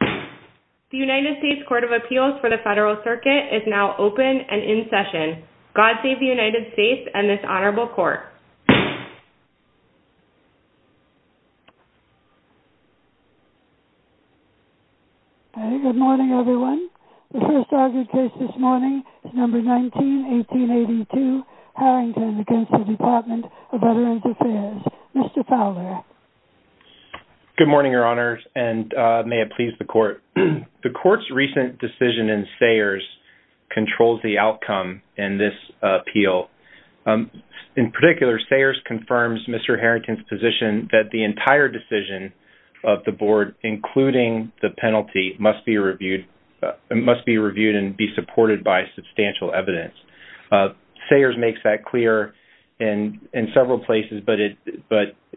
The United States Court of Appeals for the Federal Circuit is now open and in session. God save the United States and this honorable court. Good morning everyone. The first argued case this morning is number 19-1882 Harrington against the Department of Veterans Affairs. Mr. Fowler. Good morning, your honors, and may it please the court. The court's recent decision in Sayers controls the outcome in this appeal. In particular, Sayers confirms Mr. Harrington's position that the entire decision of the board, including the penalty, must be reviewed and be supported by substantial evidence. Sayers makes that clear in several places, but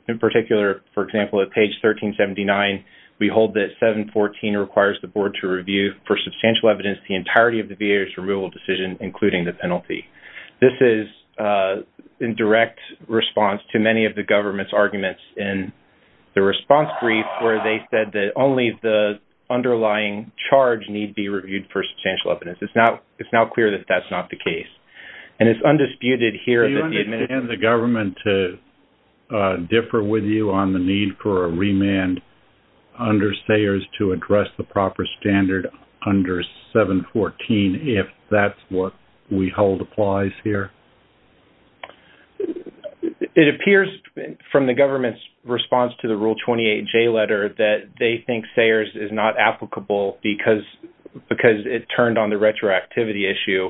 in particular, for example, at page 1379, we hold that 714 requires the board to review for substantial evidence the entirety of the VA's removal decision, including the penalty. This is in direct response to many of the government's arguments in the response brief where they said that only the underlying charge need be reviewed for substantial evidence. It's now clear that that's not the case. Do you understand the government to differ with you on the need for a remand under Sayers to address the proper standard under 714 if that's what we hold applies here? It appears from the government's response to the Rule 28J letter that they think Sayers is not applicable because it turned on the retroactivity issue,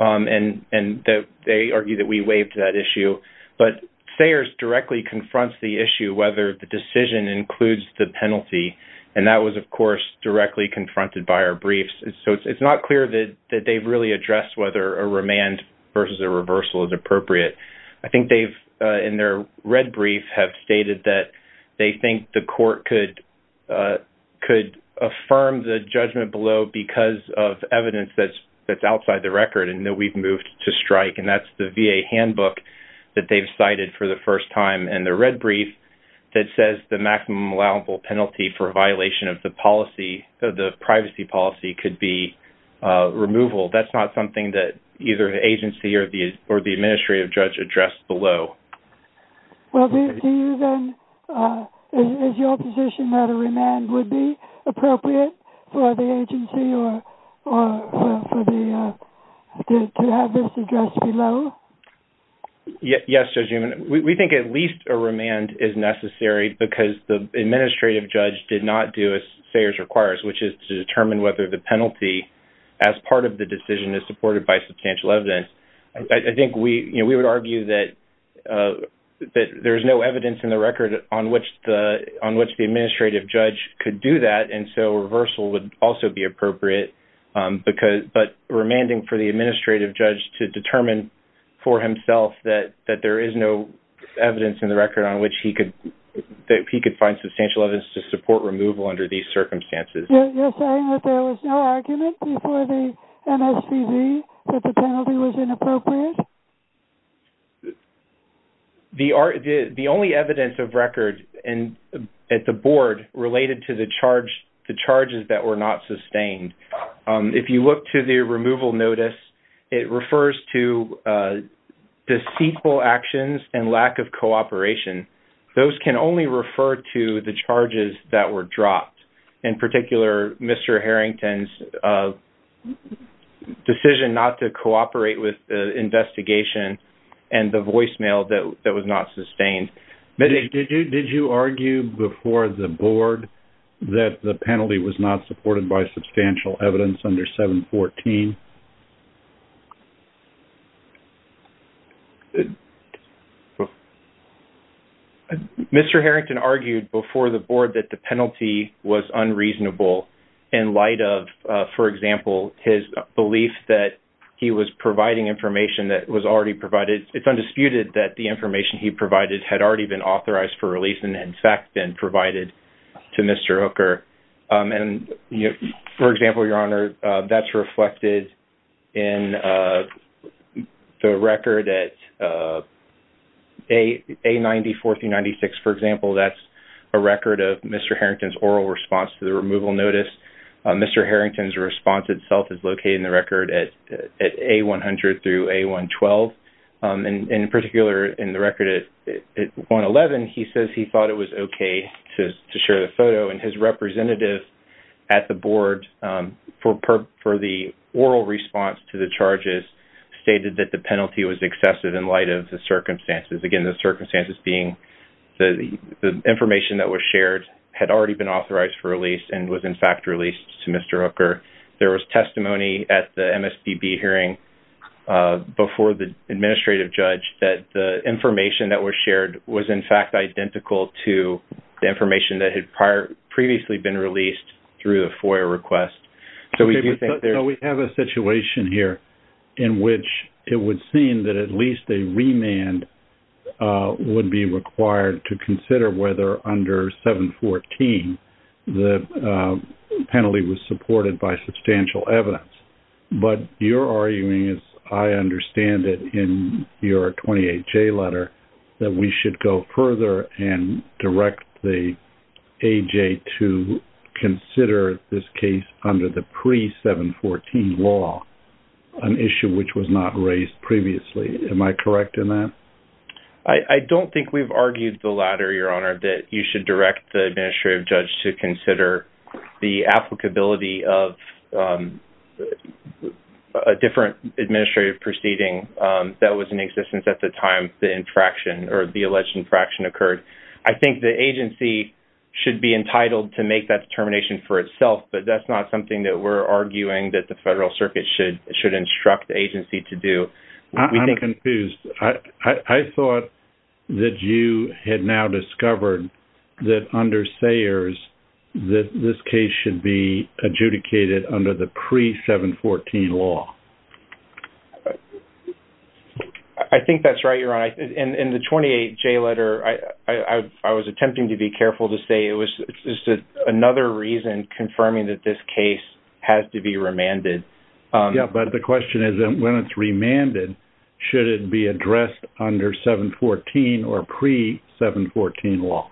and they argue that we waived that issue. But Sayers directly confronts the issue whether the decision includes the penalty, and that was, of course, directly confronted by our briefs. So it's not clear that they've really addressed whether a remand versus a reversal is appropriate. I think they've, in their red brief, have stated that they think the court could affirm the judgment below because of evidence that's outside the record and that we've moved to strike, and that's the VA handbook that they've cited for the first time. In the red brief, it says the maximum allowable penalty for violation of the privacy policy could be removal. That's not something that either the agency or the administrative judge addressed below. Is your position that a remand would be appropriate for the agency to have this addressed below? Yes, Judge Newman. We think at least a remand is necessary because the administrative judge did not do as Sayers requires, which is to determine whether the penalty as part of the decision is supported by substantial evidence. I think we would argue that there's no evidence in the record on which the administrative judge could do that, and so reversal would also be appropriate, but remanding for the administrative judge to determine for himself that there is no evidence in the record on which he could find substantial evidence to support removal under these circumstances. You're saying that there was no argument before the MSPV that the penalty was inappropriate? The only evidence of record at the board related to the charges that were not sustained. If you look to the removal notice, it refers to deceitful actions and lack of cooperation. Those can only refer to the charges that were dropped, in particular Mr. Harrington's decision not to cooperate with the investigation and the voicemail that was not sustained. Did you argue before the board that the penalty was not supported by substantial evidence under 714? Mr. Harrington argued before the board that the penalty was unreasonable in light of, for example, his belief that he was providing information that was already provided. It's undisputed that the information he provided had already been authorized for release and in fact been provided to Mr. Hooker. For example, Your Honor, that's reflected in the record at A94 through 96. For example, that's a record of Mr. Harrington's oral response to the removal notice. Mr. Harrington's response itself is located in the record at A100 through A112. In particular, in the record at A111, he says he thought it was okay to share the photo. His representative at the board for the oral response to the charges stated that the penalty was excessive in light of the circumstances. Again, the circumstances being the information that was shared had already been authorized for release and was in fact released to Mr. Hooker. There was testimony at the MSBB hearing before the administrative judge that the information that was shared was in fact identical to the information that had previously been released through the FOIA request. We have a situation here in which it would seem that at least a remand would be required to consider whether under 714 the penalty was supported by substantial evidence. But you're arguing, as I understand it in your 28J letter, that we should go further and direct the AJ to consider this case under the pre-714 law, an issue which was not raised previously. Am I correct in that? I don't think we've argued the latter, Your Honor, that you should direct the administrative judge to consider the applicability of a different administrative proceeding that was in existence at the time the infraction or the alleged infraction occurred. I think the agency should be entitled to make that determination for itself, but that's not something that we're arguing that the Federal Circuit should instruct the agency to do. I'm confused. I thought that you had now discovered that under Sayers that this case should be adjudicated under the pre-714 law. I think that's right, Your Honor. In the 28J letter, I was attempting to be careful to say it was another reason confirming that this case has to be remanded. Yeah, but the question is, when it's remanded, should it be addressed under 714 or pre-714 law?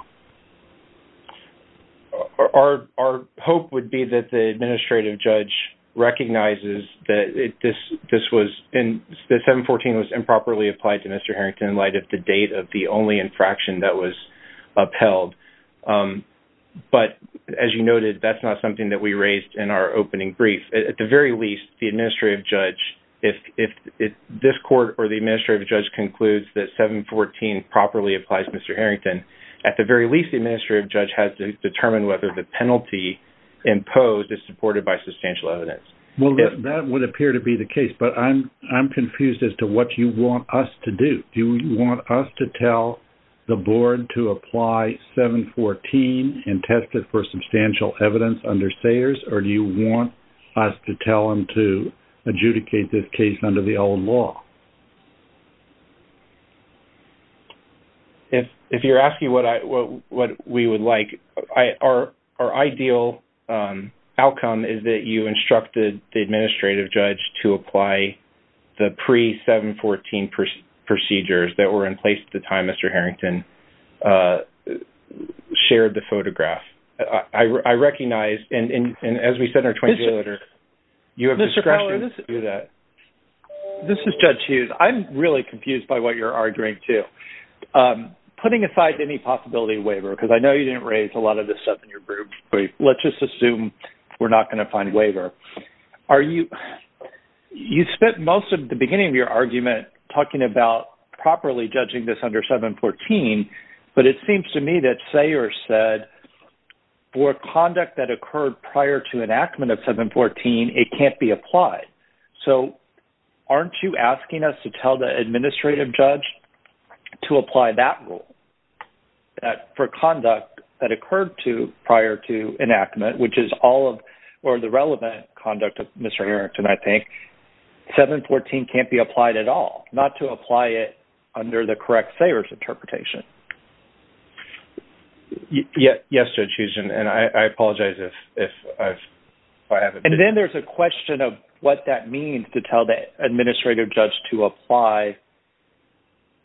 Our hope would be that the administrative judge recognizes that 714 was improperly applied to Mr. Harrington in light of the date of the only infraction that was upheld. But, as you noted, that's not something that we raised in our opening brief. At the very least, the administrative judge, if this court or the administrative judge concludes that 714 properly applies to Mr. Harrington, at the very least, the administrative judge has to determine whether the penalty imposed is supported by substantial evidence. Well, that would appear to be the case, but I'm confused as to what you want us to do. Do you want us to tell the Board to apply 714 and test it for substantial evidence under Sayers, or do you want us to tell them to adjudicate this case under the old law? If you're asking what we would like, our ideal outcome is that you instructed the administrative judge to apply the pre-714 procedures that were in place at the time Mr. Harrington shared the photograph. I recognize, and as we said in our 20-minute letter, you have discretion to do that. This is Judge Hughes. I'm really confused by what you're arguing, too. Putting aside any possibility of waiver, because I know you didn't raise a lot of this stuff in your brief, let's just assume we're not going to find waiver. You spent most of the beginning of your argument talking about properly judging this under 714, but it seems to me that Sayers said, for conduct that occurred prior to enactment of 714, it can't be applied. So, aren't you asking us to tell the administrative judge to apply that rule for conduct that occurred prior to enactment, which is all of the relevant conduct of Mr. Harrington, I think? 714 can't be applied at all, not to apply it under the correct Sayers interpretation. Yes, Judge Hughes, and I apologize if I haven't been clear. And then there's a question of what that means to tell the administrative judge to apply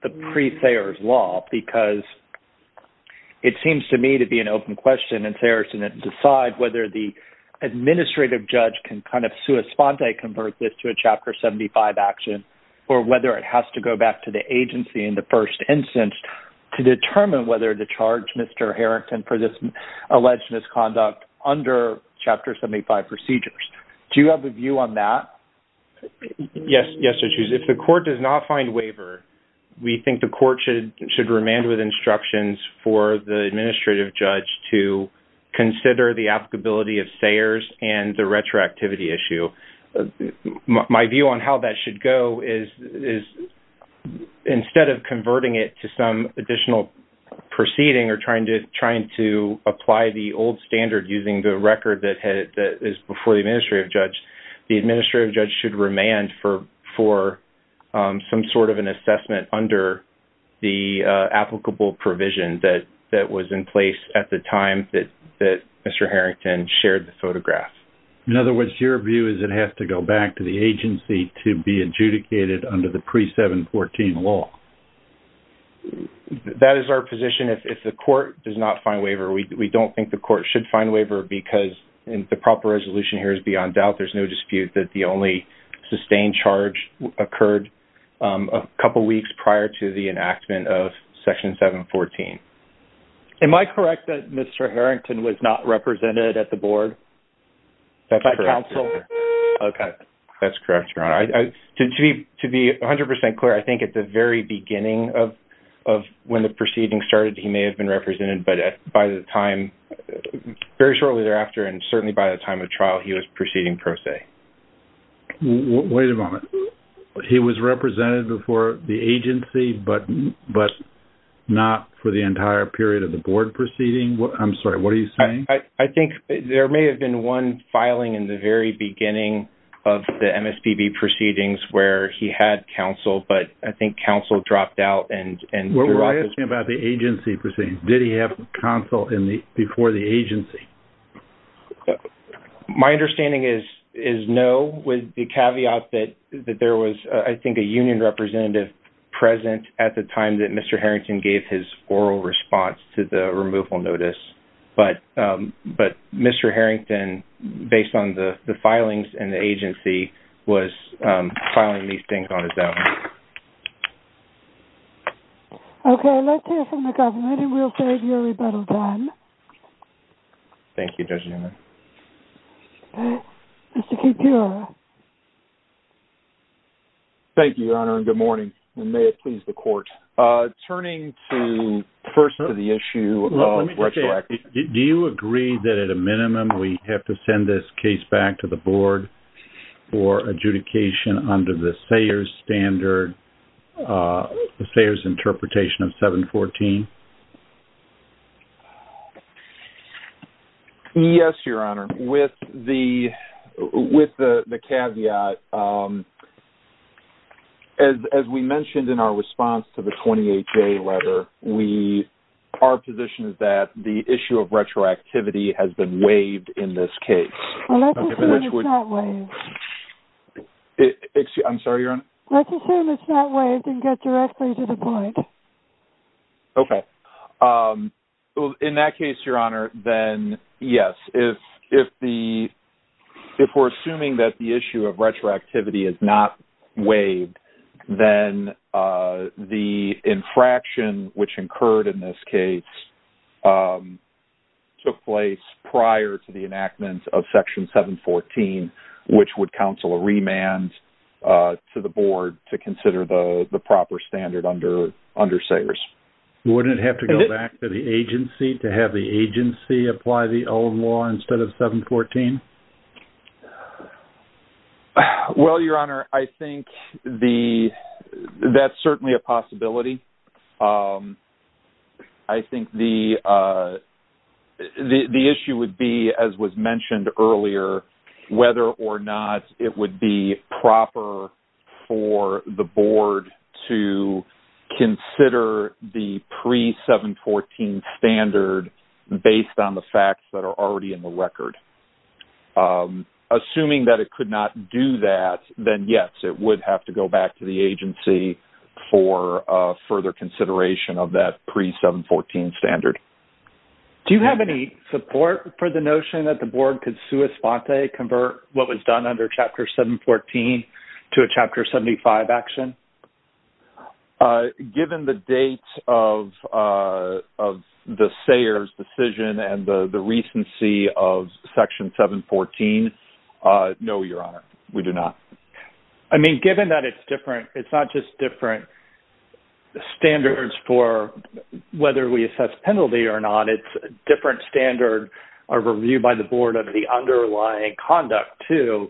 the pre-Sayers law, because it seems to me to be an open question, and Sayers didn't decide whether the administrative judge can kind of sui sponte convert this to a Chapter 75 action, or whether it has to go back to the agency in the first instance to determine whether to charge Mr. Harrington for this alleged misconduct under Chapter 75 procedures. Do you have a view on that? Yes, Judge Hughes. If the court does not find waiver, we think the court should remand with instructions for the administrative judge to consider the applicability of Sayers and the retroactivity issue. My view on how that should go is, instead of converting it to some additional proceeding or trying to apply the old standard using the record that is before the administrative judge, the administrative judge should remand for some sort of an assessment under the applicable provision that was in place at the time that Mr. Harrington shared the photograph. In other words, your view is it has to go back to the agency to be adjudicated under the pre-714 law? That is our position. If the court does not find waiver, we don't think the court should find waiver, because the proper resolution here is beyond doubt. There's no dispute that the only sustained charge occurred a couple weeks prior to the enactment of Section 714. Am I correct that Mr. Harrington was not represented at the board? By counsel. That's correct, Your Honor. To be 100% clear, I think at the very beginning of when the proceeding started, he may have been represented, but by the time, very shortly thereafter, and certainly by the time of trial, he was proceeding pro se. Wait a moment. He was represented before the agency, but not for the entire period of the board proceeding? I'm sorry, what are you saying? I think there may have been one filing in the very beginning of the MSPB proceedings where he had counsel, but I think counsel dropped out. We're asking about the agency proceedings. Did he have counsel before the agency? My understanding is no, with the caveat that there was, I think, a union representative present at the time that Mr. Harrington gave his oral response to the removal notice. But Mr. Harrington, based on the filings and the agency, was filing these things on his own. Okay, let's hear from the government, and we'll save you a rebuttal then. Thank you, Your Honor. Thank you, Judge Unum. Mr. Kucera. Thank you, Your Honor, and good morning, and may it please the court. Turning first to the issue of retroactive... Do you agree that at a minimum we have to send this case back to the board for adjudication under the Sayers standard, the Sayers interpretation of 714? Yes, Your Honor. With the caveat, as we mentioned in our response to the 28-J letter, our position is that the issue of retroactivity has been waived in this case. Well, let's assume it's not waived. I'm sorry, Your Honor? Let's assume it's not waived and get directly to the point. Okay. In that case, Your Honor, then yes. If we're assuming that the issue of retroactivity is not waived, then the infraction which occurred in this case took place prior to the enactment of Section 714, which would counsel a remand to the board to consider the proper standard under Sayers. Wouldn't it have to go back to the agency to have the agency apply the old law instead of 714? Well, Your Honor, I think that's certainly a possibility. I think the issue would be, as was mentioned earlier, whether or not it would be proper for the board to consider the pre-714 standard based on the facts that are already in the record. Assuming that it could not do that, then yes, it would have to go back to the agency for further consideration of that pre-714 standard. Do you have any support for the notion that the board could sua sponte convert what was done under Chapter 714 to a Chapter 75 action? Given the date of the Sayers decision and the recency of Section 714, no, Your Honor, we do not. Given that it's different, it's not just different standards for whether we assess penalty or not. It's a different standard of review by the board of the underlying conduct, too.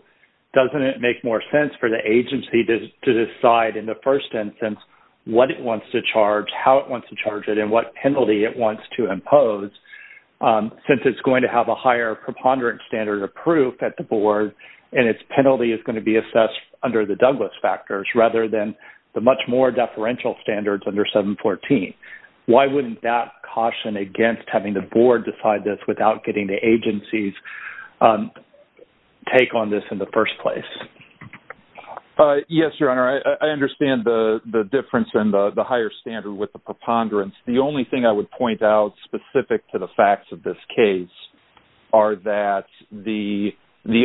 Doesn't it make more sense for the agency to decide in the first instance what it wants to charge, how it wants to charge it, and what penalty it wants to impose? Since it's going to have a higher preponderance standard of proof at the board and its penalty is going to be assessed under the Douglas factors rather than the much more deferential standards under 714, why wouldn't that caution against having the board decide this without getting the agency's take on this in the first place? Yes, Your Honor, I understand the difference in the higher standard with the preponderance. The only thing I would point out specific to the facts of this case are that the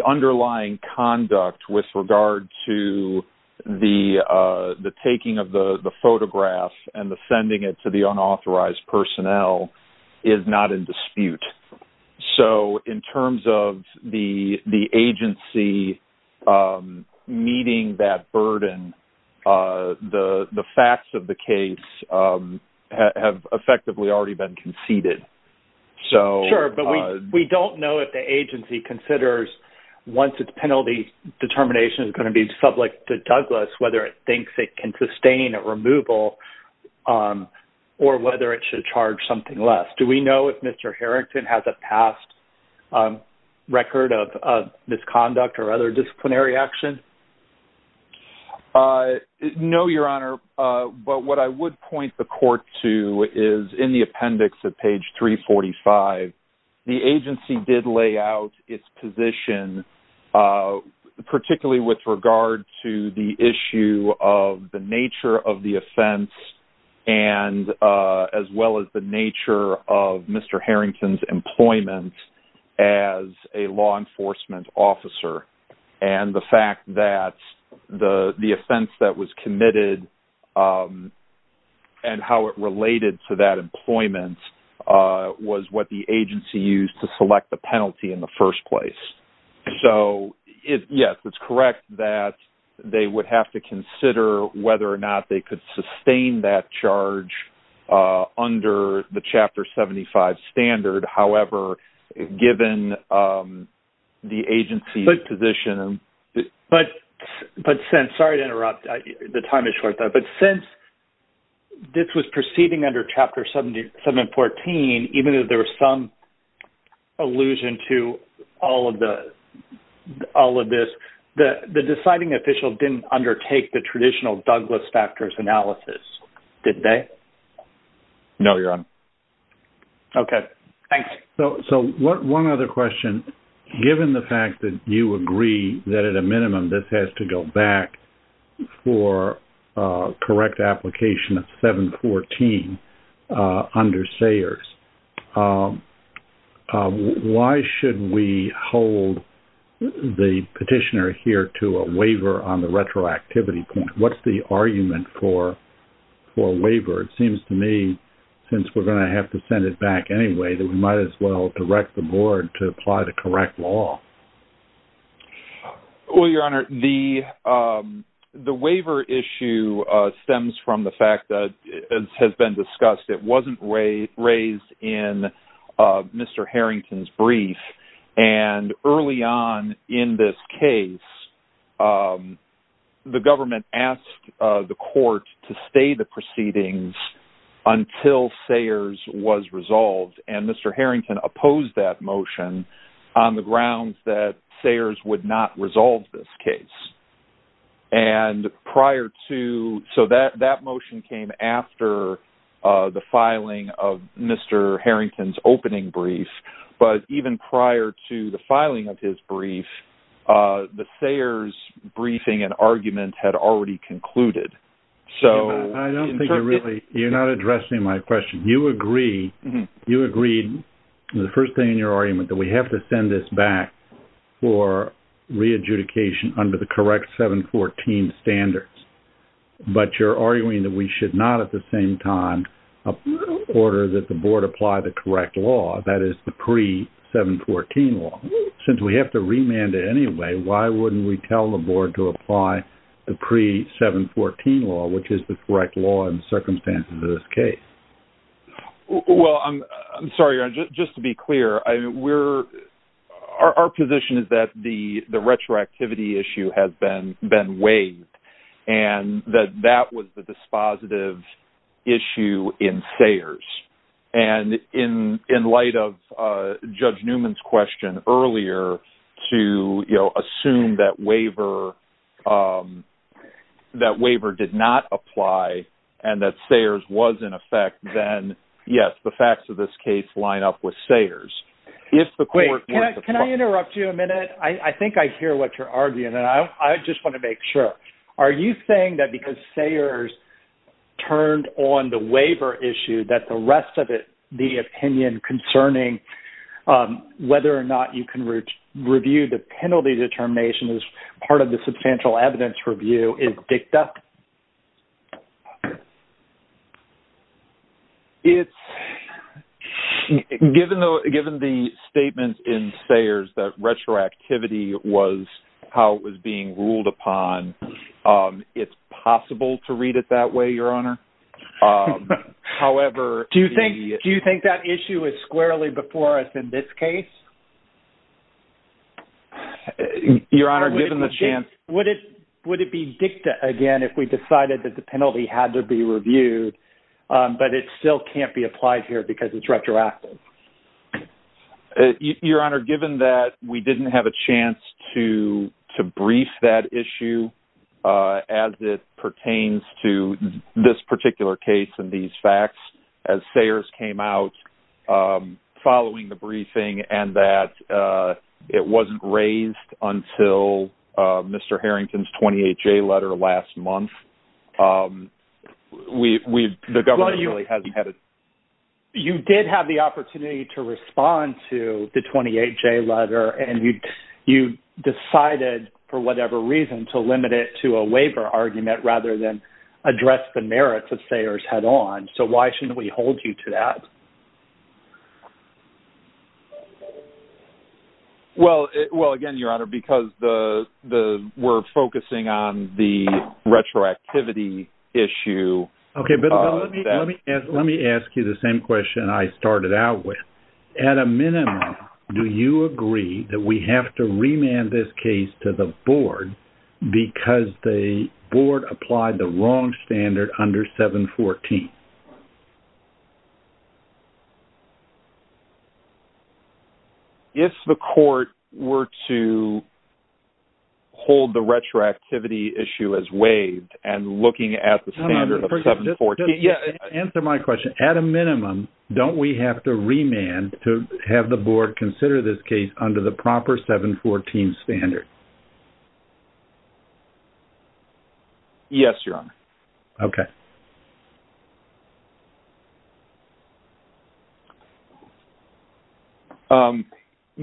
underlying conduct with regard to the taking of the photograph and the sending it to the unauthorized personnel is not in dispute. So, in terms of the agency meeting that burden, the facts of the case have effectively already been conceded. Sure, but we don't know if the agency considers, once its penalty determination is going to be subject to Douglas, whether it thinks it can sustain a removal or whether it should charge something less. Do we know if Mr. Harrington has a past record of misconduct or other disciplinary action? No, Your Honor, but what I would point the court to is in the appendix at page 345. The agency did lay out its position, particularly with regard to the issue of the nature of the offense and as well as the nature of Mr. Harrington's employment as a law enforcement officer. And the fact that the offense that was committed and how it related to that employment was what the agency used to select the penalty in the first place. So, yes, it's correct that they would have to consider whether or not they could sustain that charge under the Chapter 75 standard. However, given the agency's position... But since, sorry to interrupt, the time is short, but since this was proceeding under Chapter 714, even though there was some allusion to all of this, the deciding official didn't undertake the traditional Douglas factors analysis, did they? No, Your Honor. Okay, thanks. So one other question. Given the fact that you agree that at a minimum this has to go back for correct application of 714 under Sayers, why should we hold the petitioner here to a waiver on the retroactivity point? Or it seems to me, since we're going to have to send it back anyway, that we might as well direct the board to apply the correct law. Well, Your Honor, the waiver issue stems from the fact that, as has been discussed, it wasn't raised in Mr. Harrington's brief. And early on in this case, the government asked the court to stay the proceedings until Sayers was resolved. And Mr. Harrington opposed that motion on the grounds that Sayers would not resolve this case. And prior to – so that motion came after the filing of Mr. Harrington's opening brief. But even prior to the filing of his brief, the Sayers briefing and argument had already concluded. I don't think you're really – you're not addressing my question. You agree – you agreed, the first thing in your argument, that we have to send this back for re-adjudication under the correct 714 standards. But you're arguing that we should not at the same time order that the board apply the correct law, that is, the pre-714 law. Since we have to remand it anyway, why wouldn't we tell the board to apply the pre-714 law, which is the correct law in the circumstances of this case? Well, I'm sorry, Your Honor, just to be clear, we're – our position is that the retroactivity issue has been waived. And that that was the dispositive issue in Sayers. And in light of Judge Newman's question earlier to, you know, assume that waiver – that waiver did not apply and that Sayers was in effect, then yes, the facts of this case line up with Sayers. Wait, can I interrupt you a minute? I think I hear what you're arguing, and I just want to make sure. Are you saying that because Sayers turned on the waiver issue that the rest of the opinion concerning whether or not you can review the penalty determination as part of the substantial evidence review is dicta? It's – given the statements in Sayers that retroactivity was how it was being ruled upon, it's possible to read it that way, Your Honor. However, the – Do you think that issue is squarely before us in this case? Your Honor, given the chance – Would it be dicta again if we decided that the penalty had to be reviewed, but it still can't be applied here because it's retroactive? Your Honor, given that we didn't have a chance to brief that issue as it pertains to this particular case and these facts, as Sayers came out following the briefing and that it wasn't raised until Mr. Harrington's 28-J letter last month, we've – the government really hasn't had a – You did have the opportunity to respond to the 28-J letter, and you decided for whatever reason to limit it to a waiver argument rather than address the merits of Sayers head-on, so why shouldn't we hold you to that? Well, again, Your Honor, because the – we're focusing on the retroactivity issue. Okay, but let me ask you the same question I started out with. At a minimum, do you agree that we have to remand this case to the board because the board applied the wrong standard under 714? If the court were to hold the retroactivity issue as waived and looking at the standard of 714 – Answer my question. At a minimum, don't we have to remand to have the board consider this case under the proper 714 standard? Yes, Your Honor. Okay. I don't find that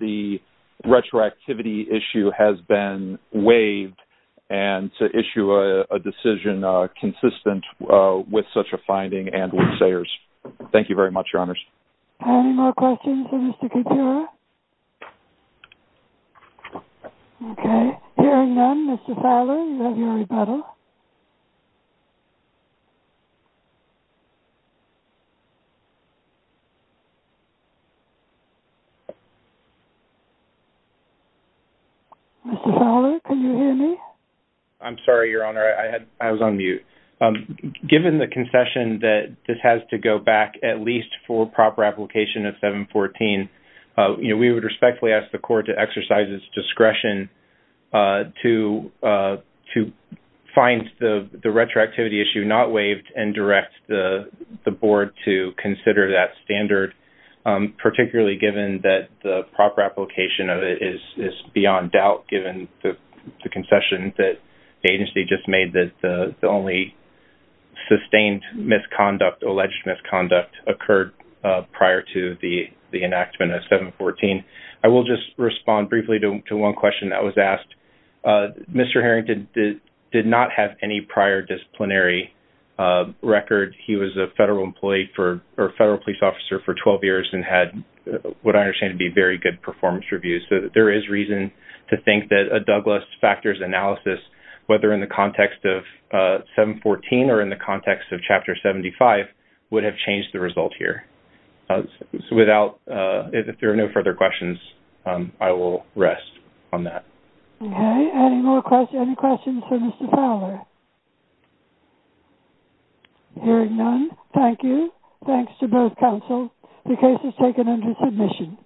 the retroactivity issue has been waived, and to issue a decision consistent with such a finding and with Sayers. Thank you very much, Your Honors. Any more questions for Mr. Kutura? Okay. Hearing none, Mr. Fowler, you have your rebuttal. Mr. Fowler, can you hear me? I'm sorry, Your Honor. I was on mute. Given the concession that this has to go back at least for proper application of 714, we would respectfully ask the court to exercise its discretion to find the retroactivity issue not waived and direct the board to consider that standard, particularly given that the proper application of it is beyond doubt given the concession that the agency just made that the only sustained misconduct, alleged misconduct, occurred prior to the enactment of 714. I will just respond briefly to one question that was asked. Mr. Harrington did not have any prior disciplinary record. He was a federal police officer for 12 years and had what I understand to be very good performance reviews. So there is reason to think that a Douglas factors analysis, whether in the context of 714 or in the context of Chapter 75, would have changed the result here. So if there are no further questions, I will rest on that. Okay. Any more questions? Any questions for Mr. Fowler? Hearing none, thank you. Thanks to both counsel. The case is taken under submission.